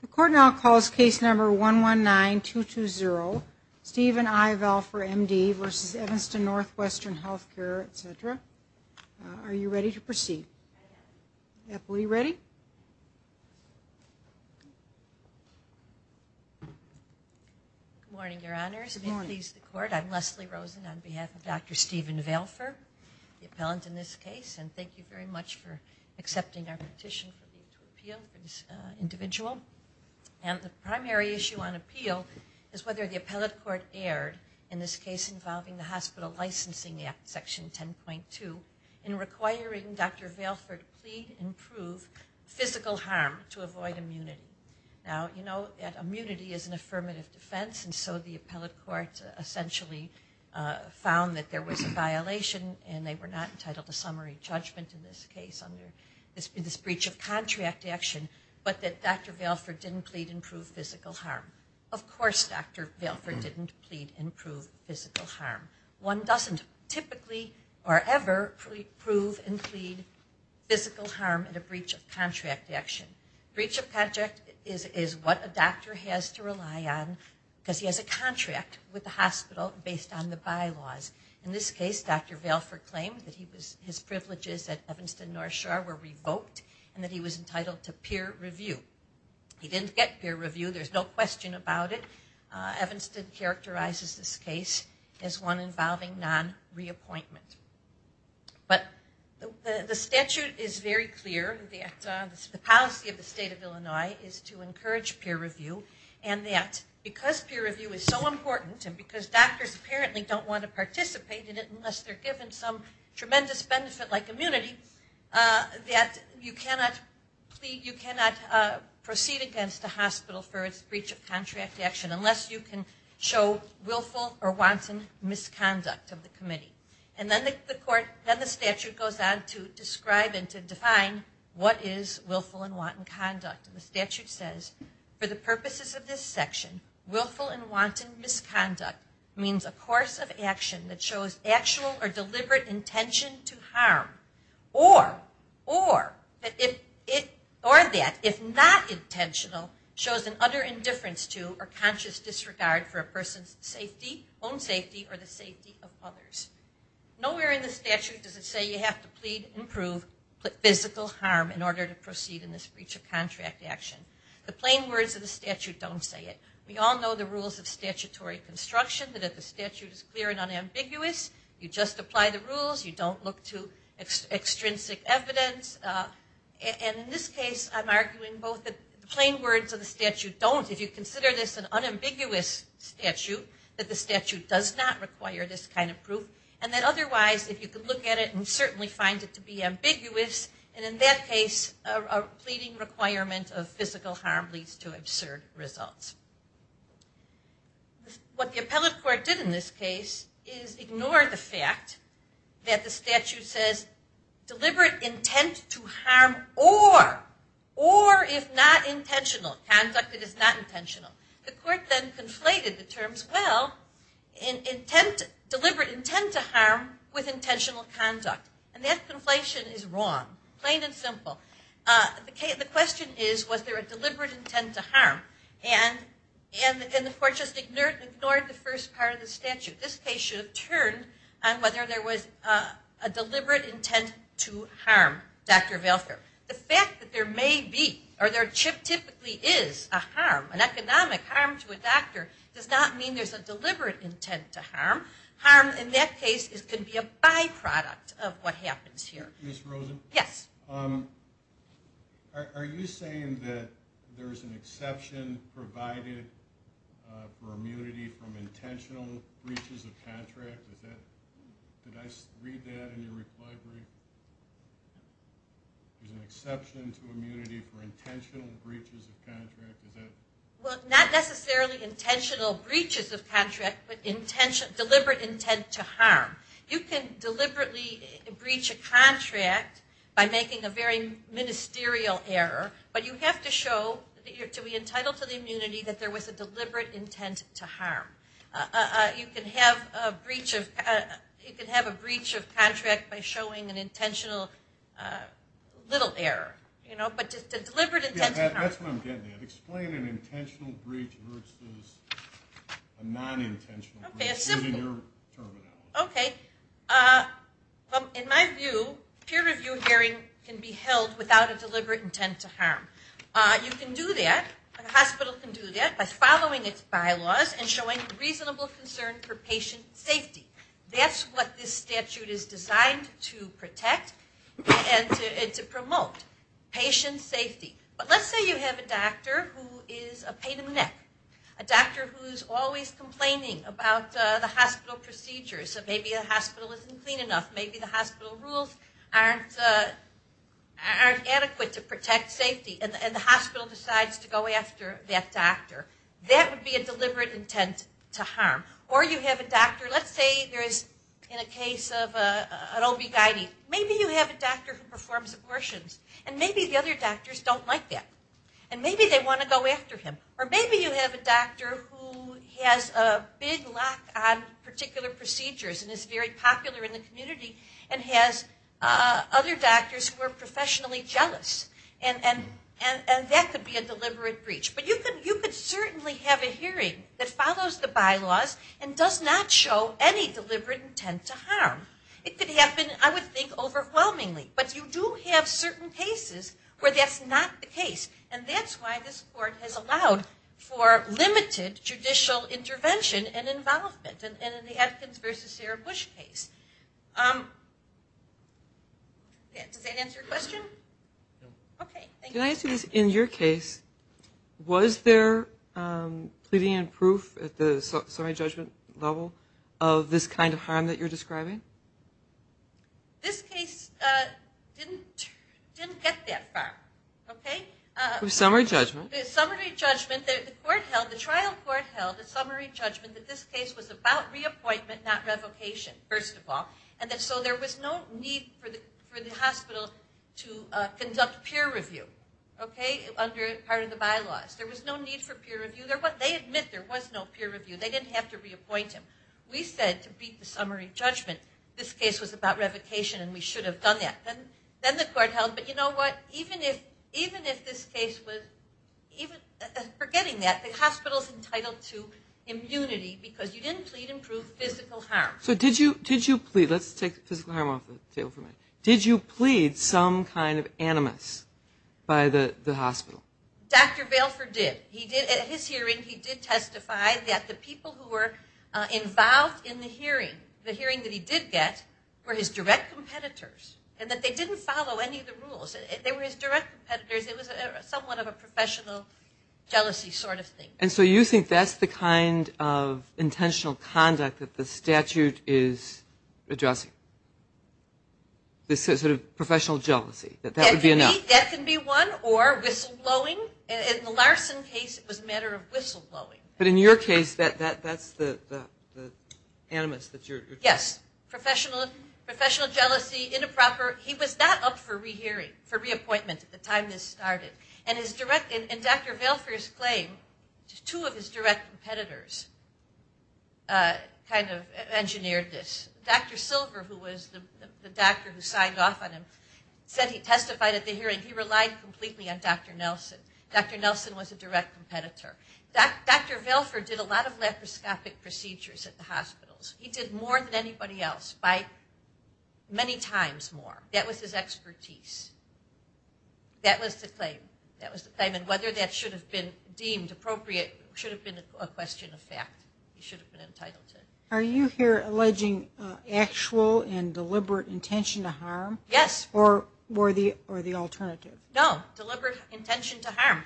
The court now calls case number 119-220 Stephen I. Valfer, M.D. v. Evanston Northwestern Healthcare, etc. Are you ready to proceed? Are you ready? Good morning, Your Honors. I'm Leslie Rosen on behalf of Dr. Stephen Valfer, the appellant in this case. And thank you very much for accepting our petition to appeal for this individual. And the primary issue on appeal is whether the appellate court erred, in this case involving the Hospital Licensing Act, Section 10.2, in requiring Dr. Valfer to plead and prove physical harm to avoid immunity. Now, you know that immunity is an affirmative defense, and so the appellate court essentially found that there was a violation and they were not entitled to summary judgment in this case under this breach of contract action, but that Dr. Valfer didn't plead and prove physical harm. Of course Dr. Valfer didn't plead and prove physical harm. One doesn't typically or ever prove and plead physical harm in a breach of contract action. Breach of contract is what a doctor has to rely on because he has a contract with the hospital based on the bylaws. In this case, Dr. Valfer claimed that his privileges at Evanston North Shore were revoked and that he was entitled to peer review. He didn't get peer review. There's no question about it. Evanston characterizes this case as one involving non-reappointment. But the statute is very clear that the policy of the state of Illinois is to encourage peer review, and that because peer review is so important and because doctors apparently don't want to participate in it unless they're given some tremendous benefit like immunity, that you cannot proceed against a hospital for its breach of contract action unless you can show willful or wanton misconduct of the committee. And then the statute goes on to describe and to define what is willful and wanton conduct. And the statute says, for the purposes of this section, willful and wanton misconduct means a course of action that shows actual or deliberate intention to harm or that if not intentional, shows an utter indifference to or conscious disregard for a person's own safety or the safety of others. Nowhere in the statute does it say you have to plead and prove physical harm in order to proceed in this breach of contract action. The plain words of the statute don't say it. We all know the rules of statutory construction, that if the statute is clear and unambiguous, you just apply the rules, you don't look to extrinsic evidence. And in this case, I'm arguing both the plain words of the statute don't. If you consider this an unambiguous statute, that the statute does not require this kind of proof. And then otherwise, if you can look at it and certainly find it to be ambiguous, and in that case a pleading requirement of physical harm leads to absurd results. What the appellate court did in this case is ignore the fact that the statute says deliberate intent to harm or, if not intentional, conduct that is not intentional. The court then conflated the terms, well, deliberate intent to harm with intentional conduct. And that conflation is wrong. Plain and simple. The question is, was there a deliberate intent to harm? And the court just ignored the first part of the statute. This case should have turned on whether there was a deliberate intent to harm, Dr. Valfer. The fact that there may be or there typically is a harm, an economic harm to a doctor, does not mean there's a deliberate intent to harm. Harm in that case could be a byproduct of what happens here. Ms. Rosen? Yes. Are you saying that there's an exception provided for immunity from intentional breaches of contract? Did I read that in your reply brief? There's an exception to immunity for intentional breaches of contract? Well, not necessarily intentional breaches of contract, but deliberate intent to harm. You can deliberately breach a contract by making a very ministerial error, but you have to show to be entitled to the immunity that there was a deliberate intent to harm. You can have a breach of contract by showing an intentional little error, but a deliberate intent to harm. That's what I'm getting at. Explain an intentional breach versus a non-intentional breach using your terminology. Okay. In my view, peer review hearing can be held without a deliberate intent to harm. You can do that. A hospital can do that by following its bylaws and showing reasonable concern for patient safety. That's what this statute is designed to protect and to promote, patient safety. But let's say you have a doctor who is a pain in the neck, a doctor who's always complaining about the hospital procedures. Maybe the hospital isn't clean enough. Maybe the hospital rules aren't adequate to protect safety, and the hospital decides to go after that doctor. That would be a deliberate intent to harm. Or you have a doctor, let's say there is, in a case of an OB-GYN, maybe you have a doctor who performs abortions, and maybe the other doctors don't like that, and maybe they want to go after him. Or maybe you have a doctor who has a big lock on particular procedures and is very popular in the community and has other doctors who are professionally jealous. And that could be a deliberate breach. But you could certainly have a hearing that follows the bylaws and does not show any deliberate intent to harm. It could happen, I would think, overwhelmingly. But you do have certain cases where that's not the case. And that's why this court has allowed for limited judicial intervention and involvement. And in the Atkins versus Sarah Bush case. Does that answer your question? No. Okay, thank you. Can I ask you this? In your case, was there pleading and proof at the summary judgment level of this kind of harm that you're describing? This case didn't get that far. Okay? Summary judgment? Summary judgment. The trial court held a summary judgment that this case was about reappointment, not revocation, first of all. And so there was no need for the hospital to conduct peer review, okay, under part of the bylaws. There was no need for peer review. They admit there was no peer review. They didn't have to reappoint him. We said to beat the summary judgment, this case was about revocation and we should have done that. Then the court held, but you know what? Even if this case was, forgetting that, the hospital is entitled to immunity because you didn't plead and prove physical harm. So did you plead? Let's take physical harm off the table for a minute. Did you plead some kind of animus by the hospital? Dr. Vailford did. At his hearing, he did testify that the people who were involved in the hearing, the hearing that he did get, were his direct competitors. And that they didn't follow any of the rules. They were his direct competitors. It was somewhat of a professional jealousy sort of thing. And so you think that's the kind of intentional conduct that the statute is addressing? This sort of professional jealousy, that that would be enough? That can be one or whistleblowing. In the Larson case, it was a matter of whistleblowing. But in your case, that's the animus that you're talking about? Yes. Professional jealousy, inappropriate. He was not up for re-hearing, for reappointment at the time this started. And Dr. Vailford's claim, two of his direct competitors kind of engineered this. Dr. Silver, who was the doctor who signed off on him, said he testified at the hearing. He relied completely on Dr. Nelson. Dr. Nelson was a direct competitor. Dr. Vailford did a lot of laparoscopic procedures at the hospitals. He did more than anybody else by many times more. That was his expertise. That was the claim. That was the claim. And whether that should have been deemed appropriate should have been a question of fact. He should have been entitled to it. Are you here alleging actual and deliberate intention to harm? Yes. Or the alternative? No, deliberate intention to harm.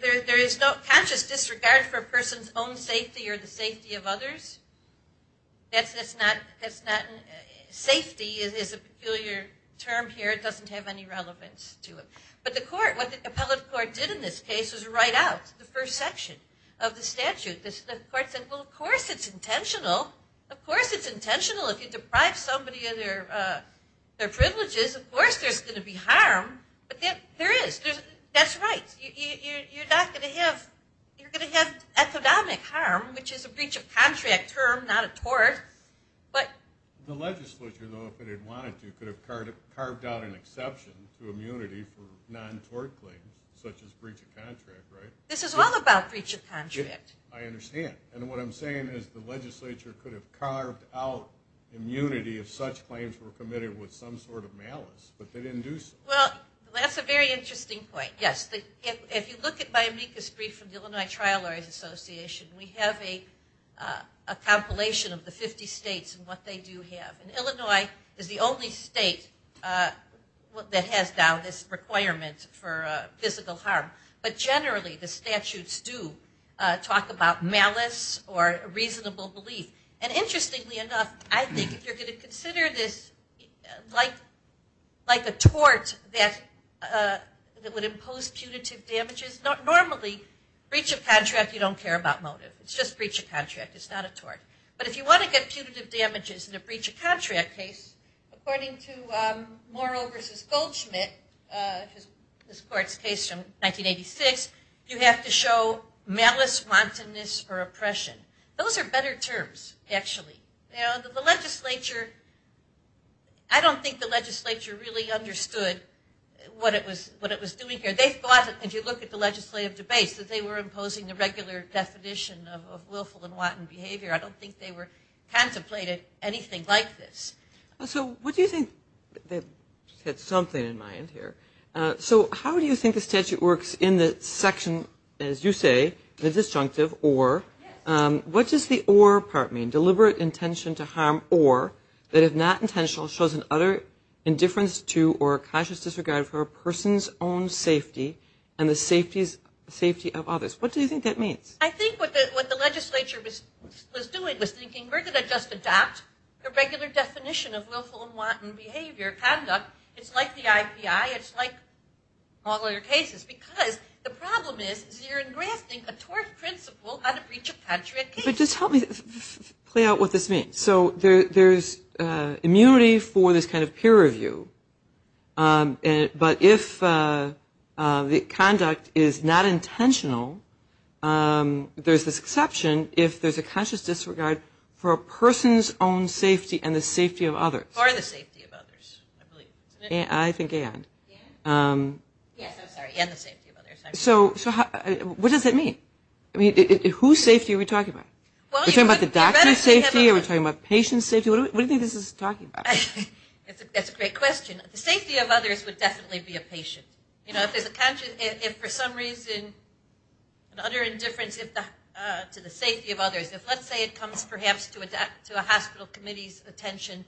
There is no conscious disregard for a person's own safety or the safety of others. Safety is a peculiar term here. It doesn't have any relevance to it. But what the appellate court did in this case was write out the first section of the statute. The court said, well, of course it's intentional. Of course it's intentional. If you deprive somebody of their privileges, of course there's going to be harm. But there is. That's right. You're not going to have. You're going to have economic harm, which is a breach of contract term, not a tort. But. The legislature, though, if it had wanted to, could have carved out an exception to immunity for non-tort claims such as breach of contract, right? This is all about breach of contract. I understand. And what I'm saying is the legislature could have carved out immunity if such claims were committed with some sort of malice. But they didn't do so. Well, that's a very interesting point. Yes. If you look at my amicus brief from the Illinois Trial Lawyers Association, we have a compilation of the 50 states and what they do have. And Illinois is the only state that has now this requirement for physical harm. But generally the statutes do talk about malice or reasonable belief. And interestingly enough, I think if you're going to consider this like a tort that would impose punitive damages, normally breach of contract you don't care about motive. It's just breach of contract. It's not a tort. But if you want to get punitive damages in a breach of contract case, according to Morrill v. Goldschmidt, this court's case from 1986, you have to show malice, wantonness, or oppression. Those are better terms, actually. You know, the legislature, I don't think the legislature really understood what it was doing here. They thought, if you look at the legislative debates, that they were imposing a regular definition of willful and wanton behavior. I don't think they contemplated anything like this. So what do you think they had something in mind here? So how do you think the statute works in the section, as you say, the disjunctive or? What does the or part mean? Deliberate intention to harm or that if not intentional shows an utter indifference to or a cautious disregard for a person's own safety and the safety of others. What do you think that means? I think what the legislature was doing was thinking, we're going to just adopt the regular definition of willful and wanton behavior, conduct. It's like the IPI. It's like all other cases because the problem is you're engrassing a tort principle on a breach of country and case. Just help me play out what this means. So there's immunity for this kind of peer review, but if the conduct is not intentional, there's this exception if there's a conscious disregard for a person's own safety and the safety of others. For the safety of others, I believe. I think and. Yes, I'm sorry, and the safety of others. So what does that mean? Whose safety are we talking about? Are we talking about the doctor's safety? Are we talking about patient's safety? What do you think this is talking about? That's a great question. The safety of others would definitely be a patient. If for some reason an utter indifference to the safety of others, if let's say it comes perhaps to a hospital committee's attention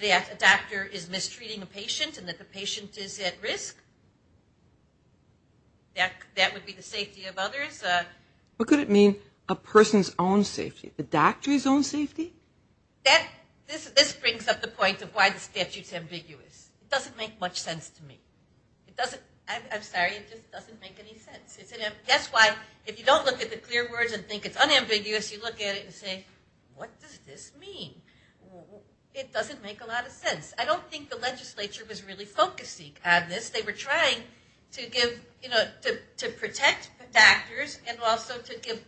that a doctor is mistreating a patient and that the patient is at risk, that would be the safety of others. What could it mean, a person's own safety? The doctor's own safety? This brings up the point of why the statute's ambiguous. It doesn't make much sense to me. I'm sorry, it just doesn't make any sense. That's why if you don't look at the clear words and think it's unambiguous, you look at it and say, what does this mean? It doesn't make a lot of sense. I don't think the legislature was really focusing on this. They were trying to give, you know, to protect doctors and also to give,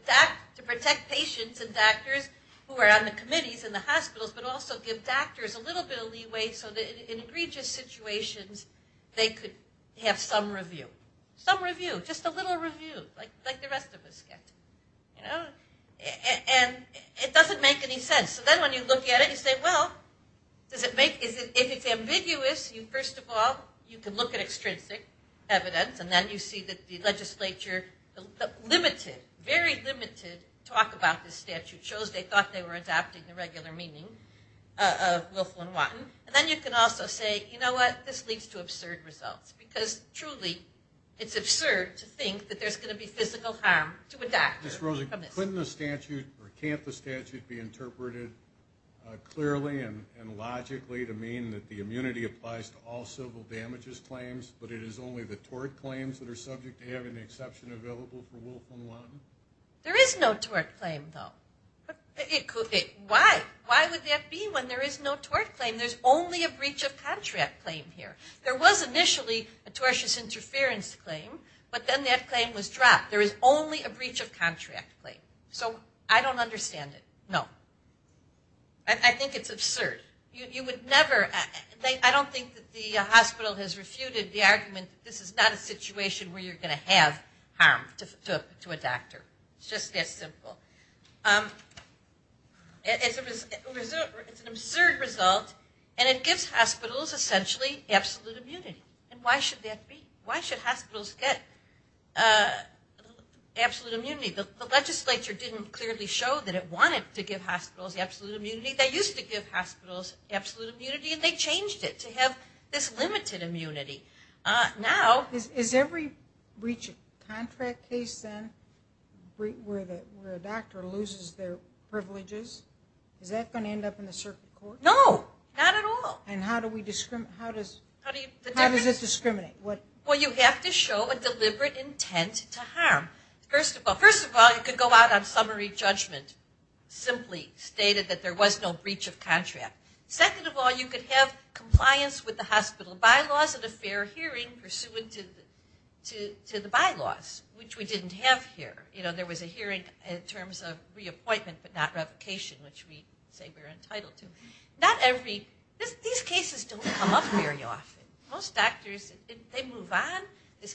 to protect patients and doctors who are on the committees in the hospitals, but also give doctors a little bit of leeway so that in egregious situations they could have some review. Some review, just a little review like the rest of us get. And it doesn't make any sense. So then when you look at it, you say, well, does it make, if it's ambiguous, first of all, you can look at extrinsic evidence, and then you see that the legislature, the limited, very limited talk about this statute shows they thought they were adapting the regular meaning of Wilf and Watten, and then you can also say, you know what, this leads to absurd results because truly it's absurd to think that there's going to be physical harm to a doctor. Ms. Rosen, couldn't the statute or can't the statute be interpreted clearly and logically to mean that the immunity applies to all civil damages claims, but it is only the tort claims that are subject to having the exception available for Wilf and Watten? There is no tort claim, though. Why? Why would that be when there is no tort claim? There's only a breach of contract claim here. There was initially a tortious interference claim, but then that claim was dropped. There is only a breach of contract claim. So I don't understand it. No. I think it's absurd. You would never, I don't think that the hospital has refuted the argument that this is not a situation where you're going to have harm to a doctor. It's just that simple. It's an absurd result, and it gives hospitals essentially absolute immunity. And why should that be? Why should hospitals get absolute immunity? The legislature didn't clearly show that it wanted to give hospitals absolute immunity. They used to give hospitals absolute immunity, and they changed it to have this limited immunity. Is every breach of contract case, then, where a doctor loses their privileges, is that going to end up in the circuit court? No. Not at all. And how does it discriminate? Well, you have to show a deliberate intent to harm. First of all, you could go out on summary judgment, simply stated that there was no breach of contract. Second of all, you could have compliance with the hospital bylaws and a fair hearing pursuant to the bylaws, which we didn't have here. You know, there was a hearing in terms of reappointment, but not revocation, which we say we're entitled to. These cases don't come up very often. Most doctors, they move on. These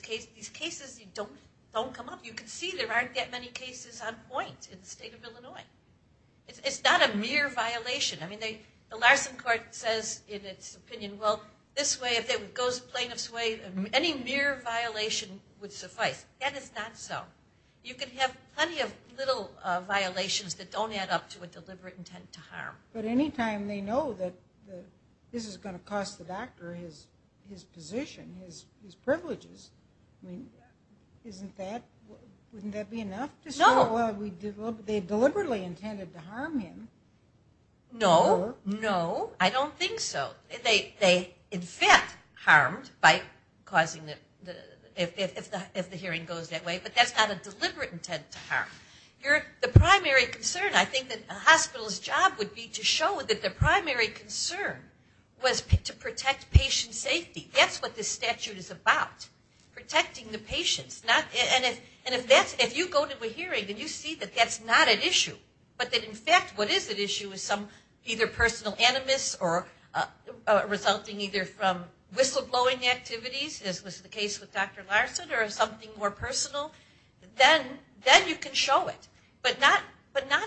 cases don't come up. You can see there aren't that many cases on point in the state of Illinois. It's not a mere violation. I mean, the Larson Court says in its opinion, well, this way, if it goes plaintiff's way, any mere violation would suffice. That is not so. You could have plenty of little violations that don't add up to a deliberate intent to harm. But any time they know that this is going to cost the doctor his position, his privileges, I mean, wouldn't that be enough to say, well, they deliberately intended to harm him? No. No. I don't think so. They in fact harmed by causing the ‑‑ if the hearing goes that way, but that's not a deliberate intent to harm. The primary concern, I think, that a hospital's job would be to show that the primary concern was to protect patient safety. That's what this statute is about, protecting the patients. And if you go to a hearing and you see that that's not an issue, but that in fact what is at issue is some either personal animus or resulting either from whistleblowing activities, as was the case with Dr. Larson, or something more personal, then you can show it. But not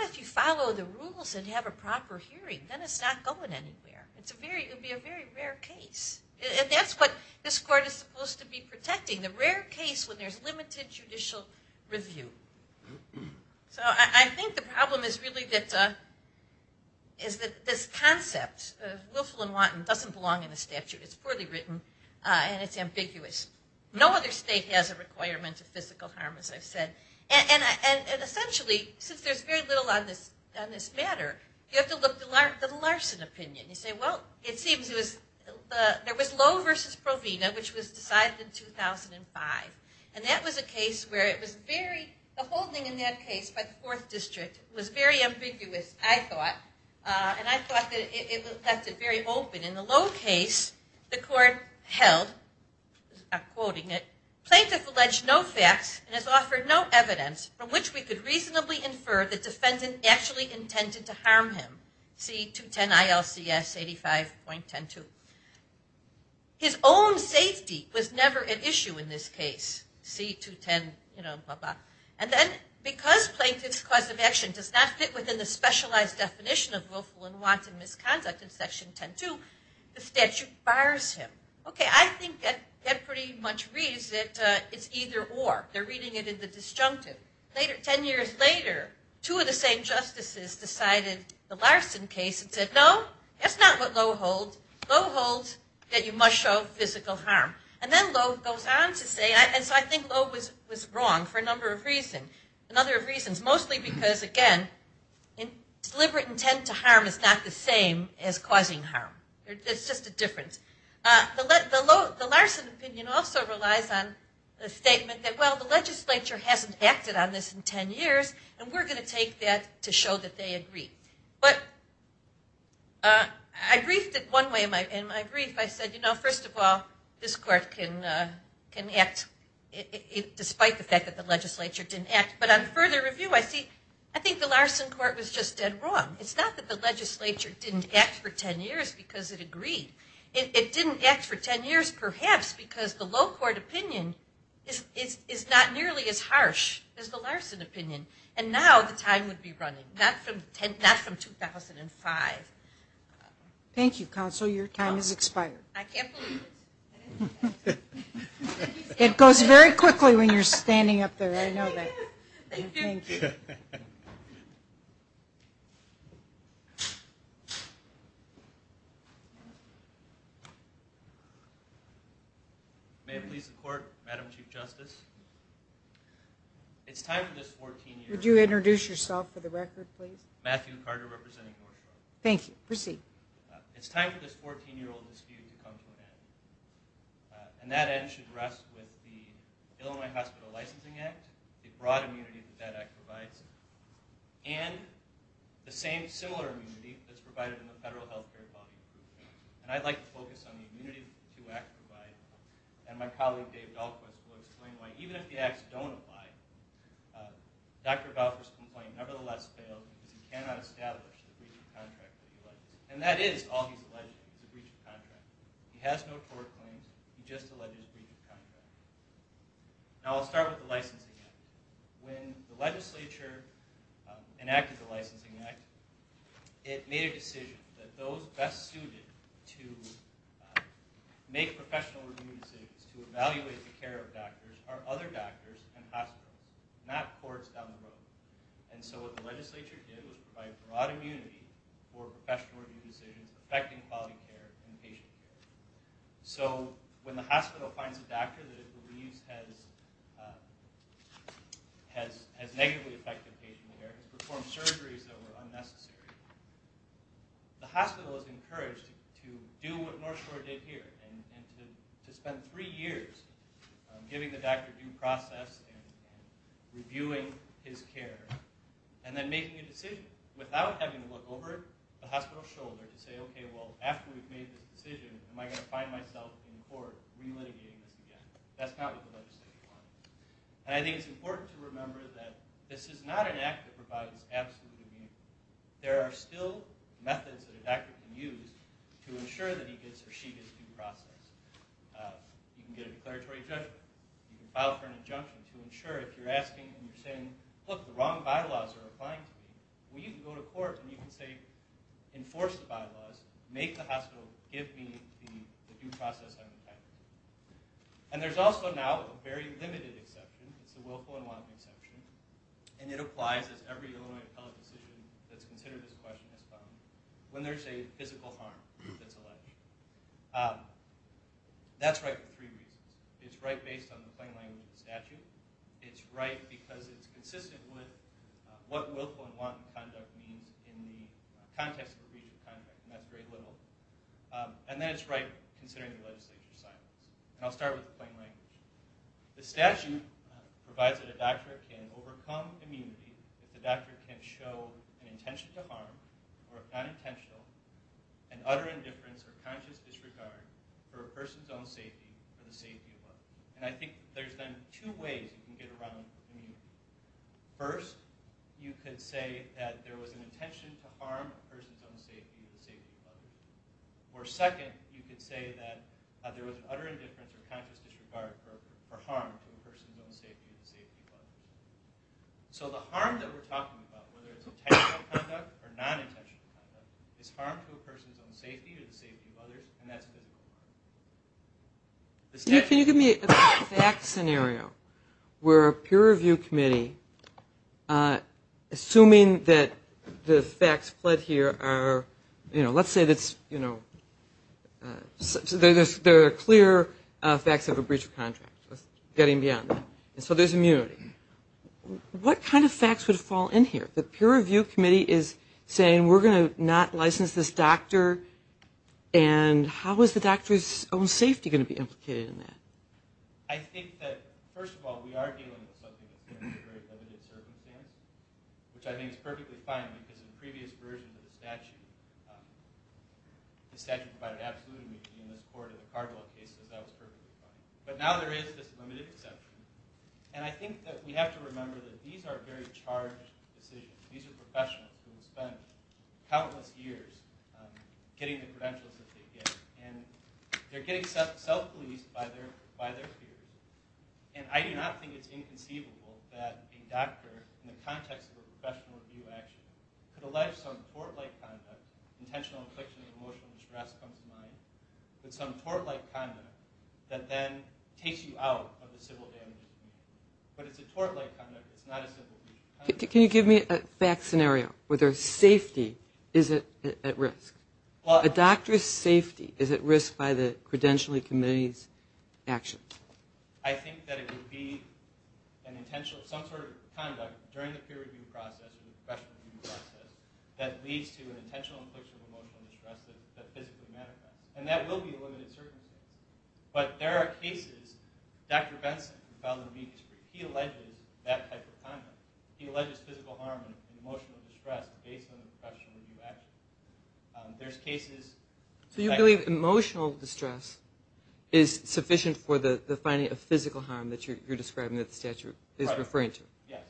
if you follow the rules and have a proper hearing. Then it's not going anywhere. It would be a very rare case. And that's what this court is supposed to be protecting, the rare case when there's limited judicial review. So I think the problem is really that this concept, willful and wanton, doesn't belong in the statute. It's poorly written and it's ambiguous. No other state has a requirement of physical harm, as I've said. And essentially, since there's very little on this matter, you have to look to the Larson opinion. You say, well, it seems there was Lowe versus Provena, which was decided in 2005. And that was a case where it was very, the holding in that case by the 4th District, was very ambiguous, I thought. And I thought that it left it very open. In the Lowe case, the court held, I'm quoting it, plaintiff alleged no facts and has offered no evidence from which we could reasonably infer the defendant actually intended to harm him. See 210 ILCS 85.102. His own safety was never an issue in this case. See 210, you know, blah, blah. And then because plaintiff's cause of action does not fit within the specialized definition of willful and wanton misconduct in section 10.2, the statute bars him. Okay, I think that pretty much reads that it's either or. They're reading it in the disjunctive. Ten years later, two of the same justices decided the Larson case and said, no, that's not what Lowe holds. Lowe holds that you must show physical harm. And then Lowe goes on to say, and so I think Lowe was wrong for a number of reasons, mostly because, again, deliberate intent to harm is not the same as causing harm. It's just a difference. The Larson opinion also relies on the statement that, well, the legislature hasn't acted on this in ten years, and we're going to take that to show that they agree. But I briefed it one way in my brief. I said, you know, first of all, this court can act despite the fact that the legislature didn't act. But on further review, I think the Larson court was just dead wrong. It's not that the legislature didn't act for ten years because it agreed. It didn't act for ten years perhaps because the Lowe court opinion is not nearly as harsh as the Larson opinion. And now the time would be running, not from 2005. Thank you, counsel. Your time has expired. I can't believe it. It goes very quickly when you're standing up there. I know that. Thank you. Thank you. May it please the court, Madam Chief Justice. It's time for this 14-year-old. Would you introduce yourself for the record, please? Matthew Carter representing North Shore. Thank you. Proceed. It's time for this 14-year-old dispute to come to an end. And that end should rest with the Illinois Hospital Licensing Act, the broad immunity that that act provides, and the same similar immunity that's provided in the Federal Health Care Quality Improvement Act. And I'd like to focus on the immunity that the two acts provide. And my colleague, Dave Dahlquist, will explain why, even if the acts don't apply, Dr. Balfour's complaint nevertheless fails because he cannot establish the breach of contract that he alleges. And that is all he's alleging is a breach of contract. He has no tort claims. He just alleges breach of contract. Now, I'll start with the licensing act. When the legislature enacted the licensing act, it made a decision that those best suited to make professional review decisions to evaluate the care of doctors are other doctors and hospitals, not courts down the road. And so what the legislature did was provide broad immunity for professional review decisions affecting quality care and patient care. So when the hospital finds a doctor that it believes has negatively affected patient care, has performed surgeries that were unnecessary, the hospital is encouraged to do what North Shore did here and to spend three years giving the doctor due process and reviewing his care and then making a decision without having to look over the hospital's shoulder to say, okay, well, after we've made this decision, am I going to find myself in court relitigating this again? That's not what the legislature wanted. And I think it's important to remember that this is not an act that provides absolute immunity. There are still methods that a doctor can use to ensure that he gets or she gets due process. You can get a declaratory judgment. You can file for an injunction to ensure if you're asking and you're saying, look, the wrong bylaws are applying to me, well, you can go to court and you can say, enforce the bylaws, make the hospital give me the due process I'm entitled to. And there's also now a very limited exception. It's the willful and wanton exception. And it applies as every Illinois appellate decision that's considered this question has found, when there's a physical harm that's alleged. That's right for three reasons. It's right based on the plain language of the statute. It's right because it's consistent with what willful and wanton conduct means in the context of a breach of contract, and that's very little. And then it's right considering the legislature's silence. And I'll start with the plain language. The statute provides that a doctor can overcome immunity if the doctor can show an intention to harm or, if not intentional, an utter indifference or conscious disregard for a person's own safety or the safety of others. And I think there's then two ways you can get around immunity. First, you could say that there was an intention to harm a person's own safety or the safety of others. Or second, you could say that there was an utter indifference or conscious disregard for harm to a person's own safety or the safety of others. So the harm that we're talking about, whether it's intentional conduct or non-intentional conduct, is harm to a person's own safety or the safety of others, and that's physical harm. Can you give me a fact scenario where a peer review committee, assuming that the facts pled here are, you know, let's say there are clear facts of a breach of contract, getting beyond that, and so there's immunity. What kind of facts would fall in here? The peer review committee is saying we're going to not license this doctor, and how is the doctor's own safety going to be implicated in that? I think that, first of all, we are dealing with something that's a very limited circumstance, which I think is perfectly fine because in the previous version of the statute, the statute provided absolute immunity in this court in the Cargill case, so that was perfectly fine. But now there is this limited exception. And I think that we have to remember that these are very charged decisions. These are professionals who have spent countless years getting the credentials that they get, and they're getting self-policed by their peers. And I do not think it's inconceivable that a doctor, in the context of a professional review action, could allege some tort-like conduct, intentional infliction of emotional distress comes to mind, with some tort-like conduct that then takes you out of the civil damages committee. But it's a tort-like conduct. It's not a civil breach of contract. Can you give me a fact scenario where their safety is at risk? A doctor's safety is at risk by the credentialing committee's actions. I think that it would be some sort of conduct during the peer review process or the professional review process that leads to an intentional infliction of emotional distress that physically manifests. And that will be a limited circumstance. But there are cases, Dr. Benson, who filed an amicus brief, he alleges that type of conduct. He alleges physical harm and emotional distress based on a professional review action. There's cases... So you believe emotional distress is sufficient for the finding of physical harm that you're describing that the statute is referring to? Yes.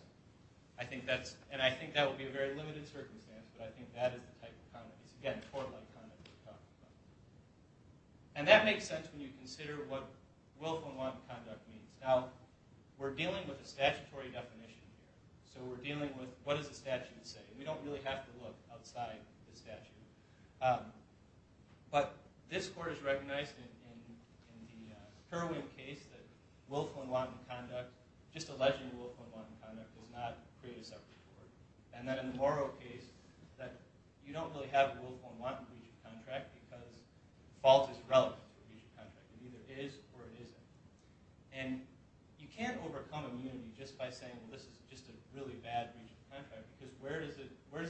And I think that will be a very limited circumstance, but I think that is the type of conduct. It's, again, tort-like conduct we're talking about. And that makes sense when you consider what willful and wantful conduct means. Now, we're dealing with a statutory definition here. So we're dealing with what does the statute say. We don't really have to look outside the statute. But this court has recognized in the Herwin case that willful and wanton conduct, just alleging willful and wanton conduct, does not create a separate court. And then in the Morrow case, you don't really have a willful and wanton breach of contract because fault is irrelevant to a breach of contract. It either is or it isn't. And you can't overcome immunity just by saying, well, this is just a really bad breach of contract, because where does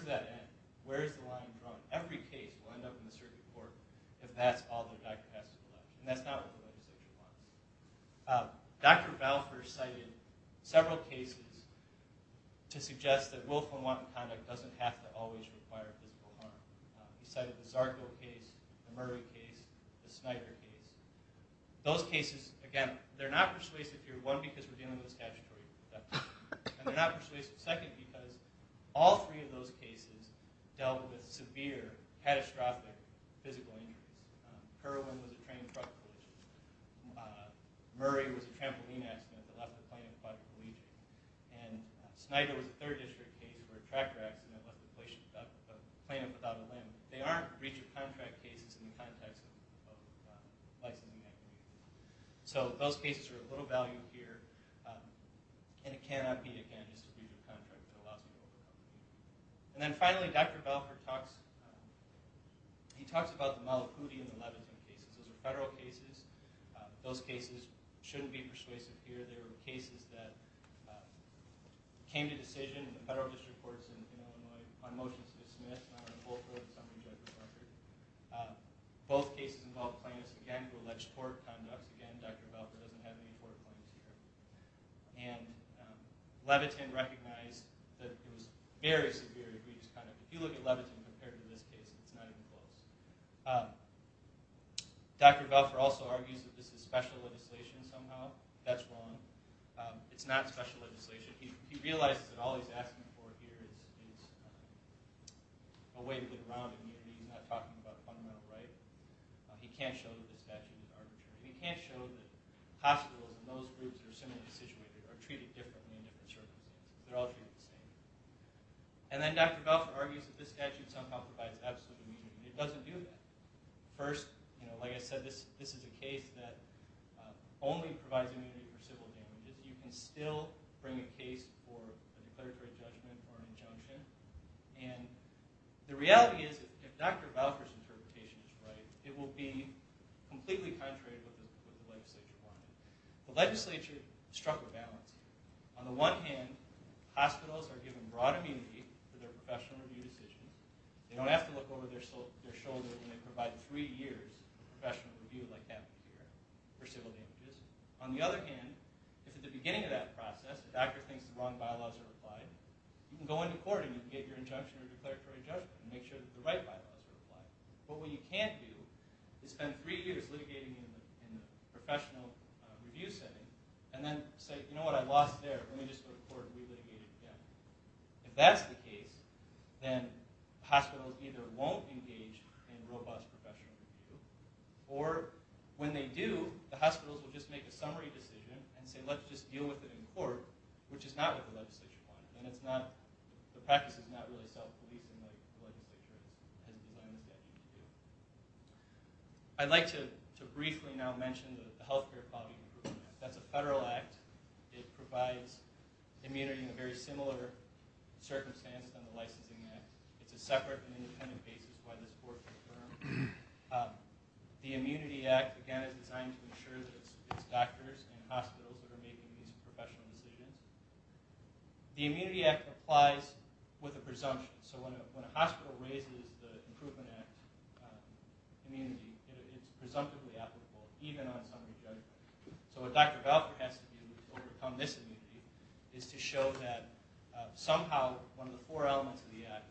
that end? Where is the line drawn? Every case will end up in the circuit court if that's all the doctor has to collect. And that's not what the legislature wants. Dr. Balfour cited several cases to suggest that willful and wanton conduct doesn't have to always require physical harm. He cited the Zarco case, the Murray case, the Snyder case. Those cases, again, they're not persuasive here. One, because we're dealing with a statutory exception. And they're not persuasive. Second, because all three of those cases dealt with severe, catastrophic physical injuries. Herwin was a train and truck collision. Murray was a trampoline accident that left the plane in a quadriplegic. And Snyder was a third district case where a tractor accident left the plane without a limb. They aren't breach of contract cases in the context of licensing activity. So those cases are of little value here. And it cannot be, again, just a breach of contract that allows for willful conduct. And then finally, Dr. Balfour talks about the Malakouti and the Levinson cases. Those are federal cases. Those cases shouldn't be persuasive here. They were cases that came to decision in the federal district courts in Illinois on motions to dismiss and on a full court summary judgment record. Both cases involved plaintiffs, again, who alleged court conduct. Again, Dr. Balfour doesn't have any court claims here. And Levitin recognized that there was very severe egregious conduct. If you look at Levitin compared to this case, it's not even close. Dr. Balfour also argues that this is special legislation somehow. That's wrong. It's not special legislation. He realizes that all he's asking for here is a way to get around immunity. He's not talking about fundamental rights. He can't show that this statute is arbitrary. He can't show that hospitals and those groups that are similarly situated are treated differently in different circles. They're all treated the same. And then Dr. Balfour argues that this statute somehow provides absolute immunity. It doesn't do that. First, like I said, this is a case that only provides immunity for civil damages. You can still bring a case for a declaratory judgment or an injunction. And the reality is, if Dr. Balfour's interpretation is right, it will be completely contrary to what the legislature wanted. The legislature struck a balance. On the one hand, hospitals are given broad immunity for their professional review decisions. They don't have to look over their shoulder when they provide three years of professional review like that for civil damages. On the other hand, if at the beginning of that process the doctor thinks the wrong bylaws are applied, you can go into court and you can get your injunction or declaratory judgment and make sure that the right bylaws are applied. But what you can't do is spend three years litigating in a professional review setting and then say, you know what, I lost there. Let me just go to court and relitigate it again. If that's the case, then hospitals either won't engage in robust professional review, or when they do, the hospitals will just make a summary decision and say, let's just deal with it in court, which is not what the legislature wanted. And the practice is not really self-reliant like the legislature had planned it to be. I'd like to briefly now mention the Health Care Quality Improvement Act. That's a federal act. It provides immunity in a very similar circumstance than the licensing act. It's a separate and independent basis why this court is adjourned. The Immunity Act, again, is designed to ensure that it's doctors and hospitals that are making these professional decisions. The Immunity Act applies with a presumption. So when a hospital raises the Improvement Act immunity, it's presumptively applicable, even on summary judgment. So what Dr. Valter has to do to overcome this immunity is to show that somehow one of the four elements of the act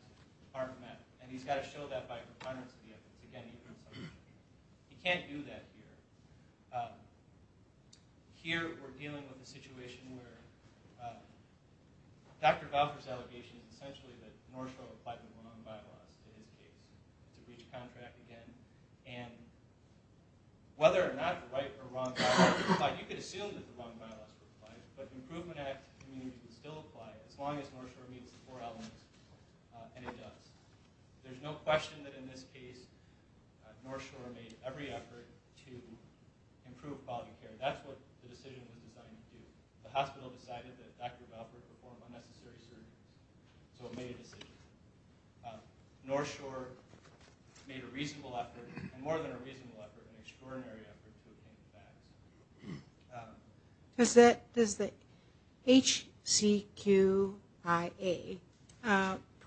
aren't met, and he's got to show that by a recurrence of the evidence. Again, he can't do that here. Here we're dealing with a situation where Dr. Valter's allegation is essentially that North Shore applied with the wrong bylaws in his case to breach a contract again. And whether or not right or wrong bylaws were applied, you could assume that the wrong bylaws were applied, but the Improvement Act immunity would still apply as long as North Shore meets the four elements, and it does. There's no question that in this case North Shore made every effort to improve quality care. That's what the decision was designed to do. The hospital decided that Dr. Valter would perform unnecessary surgery, so it made a decision. North Shore made a reasonable effort, and more than a reasonable effort, an extraordinary effort to obtain the facts. Does the HCQIA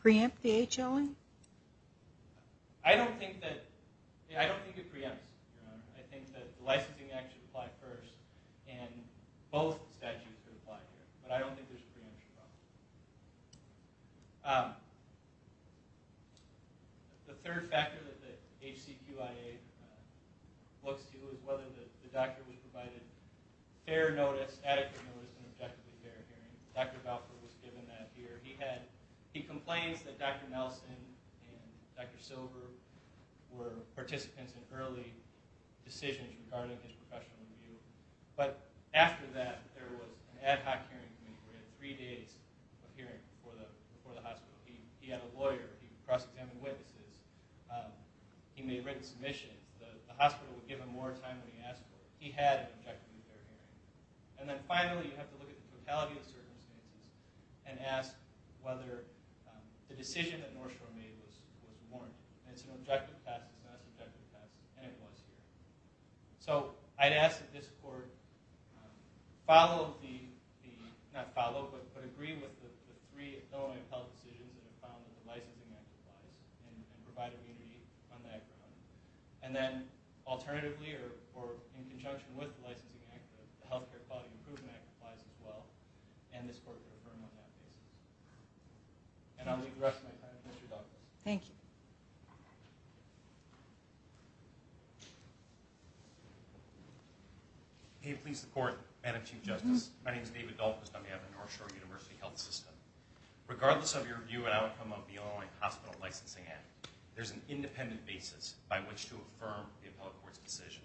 preempt the HLN? I don't think it preempts. I think that the licensing act should apply first, and both statutes should apply here. But I don't think there's a preemption problem. The third factor that the HCQIA looks to is whether the doctor was provided fair notice, adequate notice, and objectively fair hearing. Dr. Valter was given that here. He complains that Dr. Nelson and Dr. Silver were participants in early decisions regarding his professional review. But after that, there was an ad hoc hearing committee where he had three days of hearing before the hospital. He had a lawyer. He cross-examined witnesses. He made written submissions. The hospital would give him more time when he asked for it. He had an objectively fair hearing. And then finally, you have to look at the totality of the circumstances and ask whether the decision that North Shore made was warranted. It's an objective fact. It's not an subjective fact, and it was here. So I'd ask that this court follow the—not follow, but agree with the three Illinois appellate decisions that are found in the Licensing Act applies, and provide immunity on that. And then alternatively, or in conjunction with the Licensing Act, the Health Care Quality Improvement Act applies as well, and this court could affirm on that case. And I'll leave the rest of my time to Mr. Douglas. Thank you. May it please the Court, Madam Chief Justice. My name is David Douglas. I'm the head of the North Shore University Health System. Regardless of your view and outcome of the Illinois Hospital Licensing Act, there's an independent basis by which to affirm the appellate court's decision.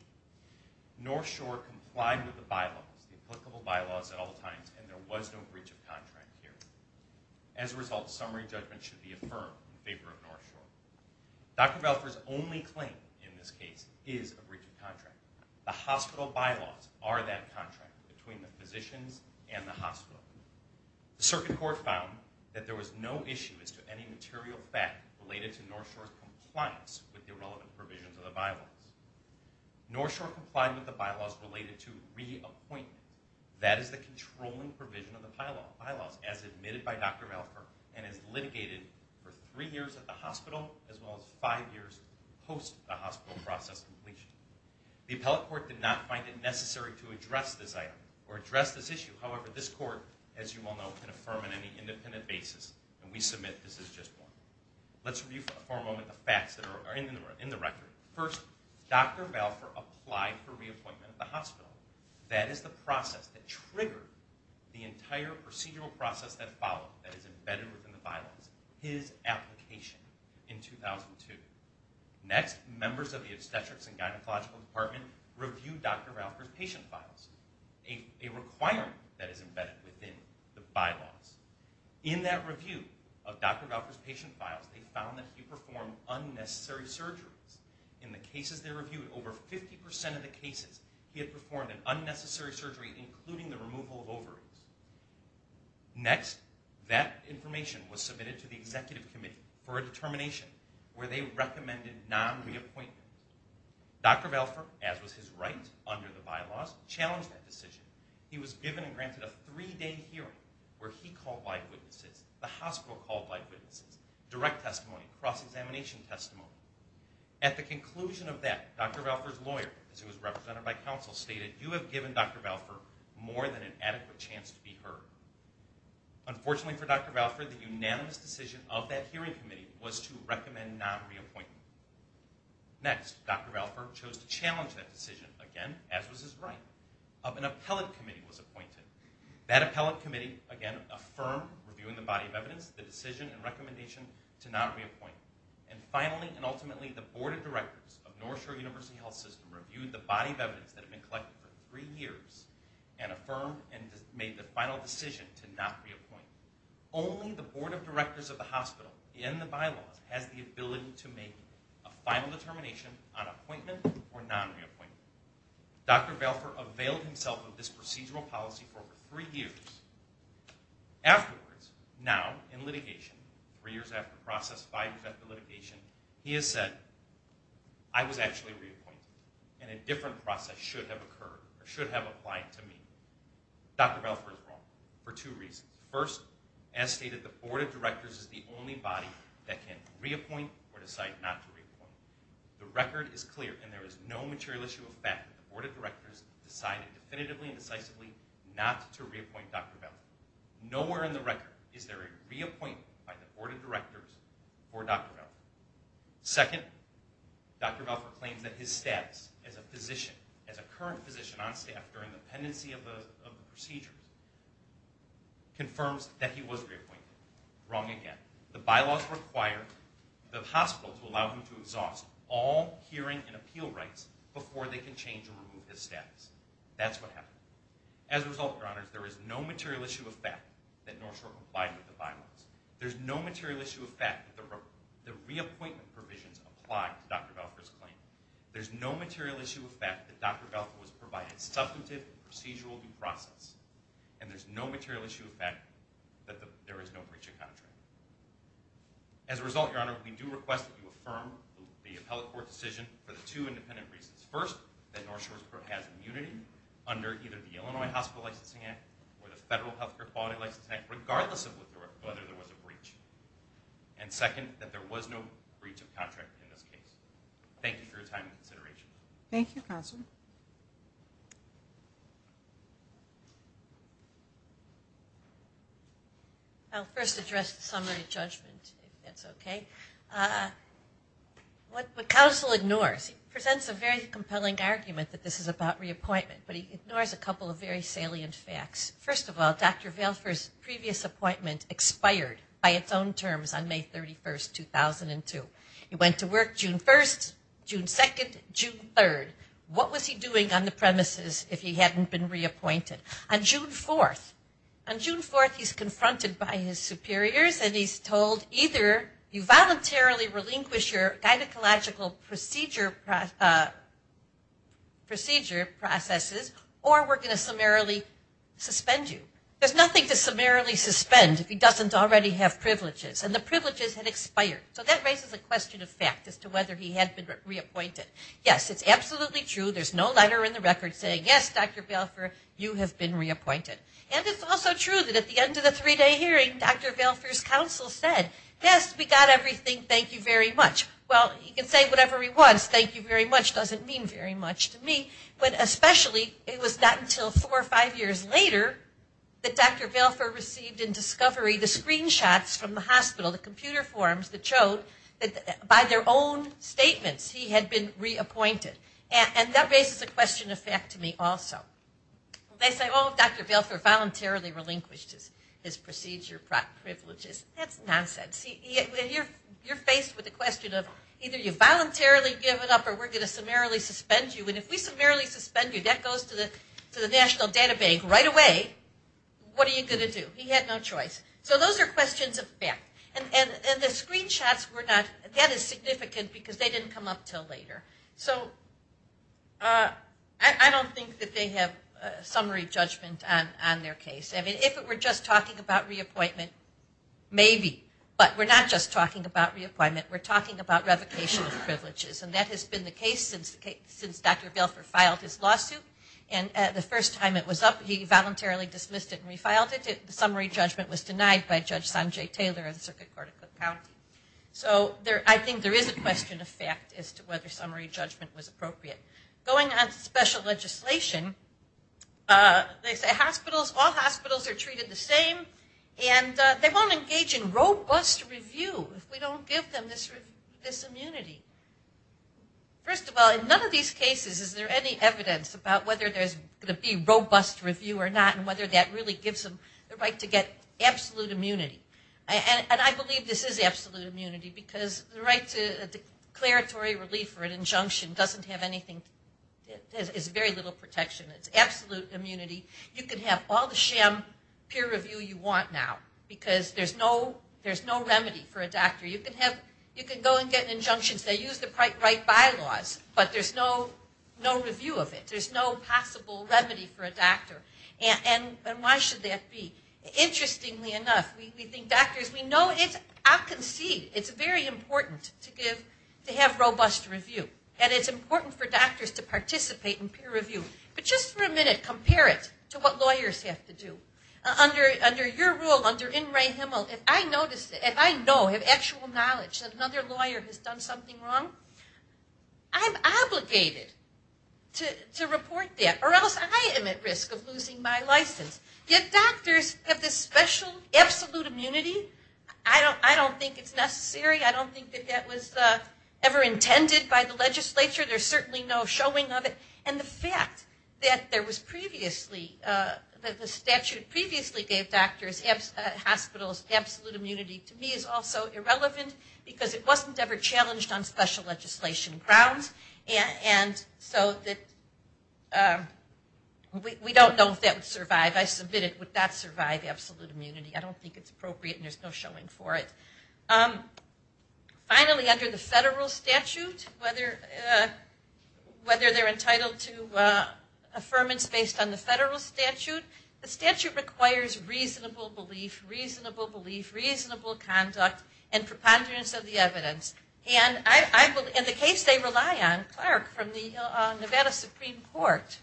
North Shore complied with the bylaws, the applicable bylaws at all times, and there was no breach of contract here. As a result, summary judgment should be affirmed in favor of North Shore. Dr. Valford's only claim in this case is a breach of contract. The hospital bylaws are that contract between the physicians and the hospital. The circuit court found that there was no issue as to any material fact related to North Shore's compliance with the irrelevant provisions of the bylaws. North Shore complied with the bylaws related to reappointment. That is the controlling provision of the bylaws as admitted by Dr. Valford and is litigated for three years at the hospital as well as five years post the hospital process completion. The appellate court did not find it necessary to address this item or address this issue. However, this court, as you well know, can affirm on any independent basis, and we submit this is just one. Let's review for a moment the facts that are in the record. First, Dr. Valford applied for reappointment at the hospital. That is the process that triggered the entire procedural process that followed that is embedded within the bylaws, his application in 2002. Next, members of the obstetrics and gynecological department reviewed Dr. Valford's patient files, a requirement that is embedded within the bylaws. In that review of Dr. Valford's patient files, they found that he performed unnecessary surgeries. In the cases they reviewed, over 50% of the cases, he had performed an unnecessary surgery, including the removal of ovaries. Next, that information was submitted to the executive committee for a determination where they recommended non-reappointment. Dr. Valford, as was his right under the bylaws, challenged that decision. He was given and granted a three-day hearing where he called by witnesses, the hospital called by witnesses, direct testimony, cross-examination testimony. At the conclusion of that, Dr. Valford's lawyer, as he was represented by counsel, stated, you have given Dr. Valford more than an adequate chance to be heard. Unfortunately for Dr. Valford, the unanimous decision of that hearing committee was to recommend non-reappointment. Next, Dr. Valford chose to challenge that decision, again, as was his right, of an appellate committee was appointed. That appellate committee, again, affirmed, reviewing the body of evidence, the decision and recommendation to non-reappointment. And finally and ultimately, the board of directors of North Shore University Health System reviewed the body of evidence that had been collected for three years and affirmed and made the final decision to not reappoint. Only the board of directors of the hospital, in the bylaws, has the ability to make a final determination on appointment or non-reappointment. Dr. Valford availed himself of this procedural policy for over three years. Afterwards, now in litigation, three years after process, five years after litigation, he has said, I was actually reappointed and a different process should have occurred or should have applied to me. Dr. Valford is wrong for two reasons. First, as stated, the board of directors is the only body that can reappoint or decide not to reappoint. The record is clear and there is no material issue of fact that the board of directors decided definitively and decisively not to reappoint Dr. Valford. Nowhere in the record is there a reappointment by the board of directors for Dr. Valford. Second, Dr. Valford claims that his status as a physician, as a current physician on staff during the pendency of the procedures, confirms that he was reappointed. Wrong again. The bylaws require the hospital to allow him to exhaust all hearing and appeal rights before they can change or remove his status. That's what happened. As a result, Your Honor, there is no material issue of fact that North Shore complied with the bylaws. There's no material issue of fact that the reappointment provisions apply to Dr. Valford's claim. There's no material issue of fact that Dr. Valford was provided substantive procedural due process. And there's no material issue of fact that there is no breach of contract. As a result, Your Honor, we do request that you affirm the appellate court decision for the two independent reasons. First, that North Shore has immunity under either the Illinois Hospital Licensing Act or the Federal Healthcare Quality Licensing Act, regardless of whether there was a breach. And second, that there was no breach of contract in this case. Thank you for your time and consideration. Thank you, counsel. I'll first address the summary judgment, if that's okay. What counsel ignores, he presents a very compelling argument that this is about reappointment, but he ignores a couple of very salient facts. First of all, Dr. Valford's previous appointment expired by its own terms on May 31st, 2002. He went to work June 1st, June 2nd, June 3rd. What was he doing on the premises if he hadn't been reappointed? On June 4th, he's confronted by his superiors and he's told, either you voluntarily relinquish your gynecological procedure processes or we're going to summarily suspend you. There's nothing to summarily suspend if he doesn't already have privileges. And the privileges had expired. So that raises a question of fact as to whether he had been reappointed. Yes, it's absolutely true. There's no letter in the record saying, yes, Dr. Valford, you have been reappointed. And it's also true that at the end of the three-day hearing, Dr. Valford's counsel said, yes, we got everything, thank you very much. Well, you can say whatever he was, thank you very much doesn't mean very much to me. But especially it was not until four or five years later that Dr. Valford received in discovery the screenshots from the hospital, the computer forms that showed that by their own statements, he had been reappointed. And that raises a question of fact to me also. They say, oh, Dr. Valford voluntarily relinquished his procedure privileges. That's nonsense. You're faced with the question of either you voluntarily give it up or we're going to summarily suspend you. And if we summarily suspend you, that goes to the National Data Bank right away. What are you going to do? He had no choice. So those are questions of fact. And the screenshots were not, that is significant because they didn't come up until later. So I don't think that they have summary judgment on their case. I mean, if it were just talking about reappointment, maybe. But we're not just talking about reappointment. We're talking about revocation of privileges. And that has been the case since Dr. Valford filed his lawsuit. And the first time it was up, he voluntarily dismissed it and refiled it. The summary judgment was denied by Judge Sanjay Taylor of the Circuit Court of Cook County. So I think there is a question of fact as to whether summary judgment was appropriate. Going on to special legislation, they say hospitals, all hospitals are treated the same. And they won't engage in robust review if we don't give them this immunity. First of all, in none of these cases is there any evidence about whether there's going to be robust review or not and whether that really gives them the right to get absolute immunity. And I believe this is absolute immunity because the right to declaratory relief or an injunction doesn't have anything. There's very little protection. It's absolute immunity. You can have all the sham peer review you want now because there's no remedy for a doctor. You can go and get injunctions. They use the right bylaws, but there's no review of it. There's no possible remedy for a doctor. And why should that be? Interestingly enough, we think doctors, we know it's obfuscate. It's very important to have robust review. And it's important for doctors to participate in peer review. But just for a minute, compare it to what lawyers have to do. Under your rule, under N. Ray Himmel, if I know, have actual knowledge, that another lawyer has done something wrong, I'm obligated to report that or else I am at risk of losing my license. Yet doctors have this special absolute immunity. I don't think it's necessary. I don't think that that was ever intended by the legislature. There's certainly no showing of it. And the fact that there was previously, that the statute previously gave hospitals absolute immunity to me is also irrelevant because it wasn't ever challenged on special legislation grounds. And so we don't know if that would survive. I submit it, would that survive absolute immunity? I don't think it's appropriate and there's no showing for it. Finally, under the federal statute, whether they're entitled to affirmance based on the federal statute, the statute requires reasonable belief, reasonable belief, reasonable conduct, and preponderance of the evidence. And the case they rely on, Clark from the Nevada Supreme Court,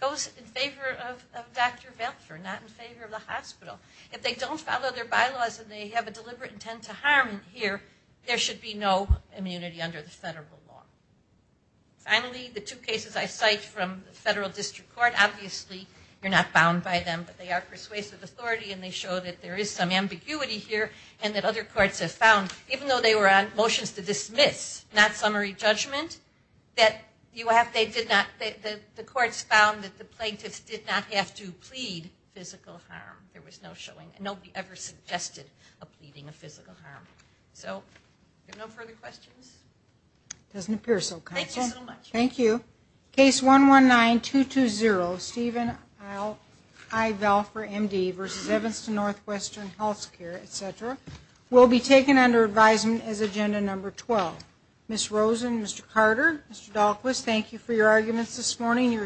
goes in favor of Dr. Velter, not in favor of the hospital. If they don't follow their bylaws and they have a deliberate intent to harm here, there should be no immunity under the federal law. Finally, the two cases I cite from the federal district court, obviously you're not bound by them, but they are persuasive authority and they show that there is some ambiguity here and that other courts have found, even though they were on motions to dismiss, not summary judgment, that the courts found that the plaintiffs did not have to plead physical harm. There was no showing. Nobody ever suggested a pleading of physical harm. So no further questions? It doesn't appear so, counsel. Thank you so much. Thank you. Case 119220, Stephen I. Velfer, M.D., versus Evanston Northwestern Health Care, etc., will be taken under advisement as agenda number 12. Ms. Rosen, Mr. Carter, Mr. Daulquist, thank you for your arguments this morning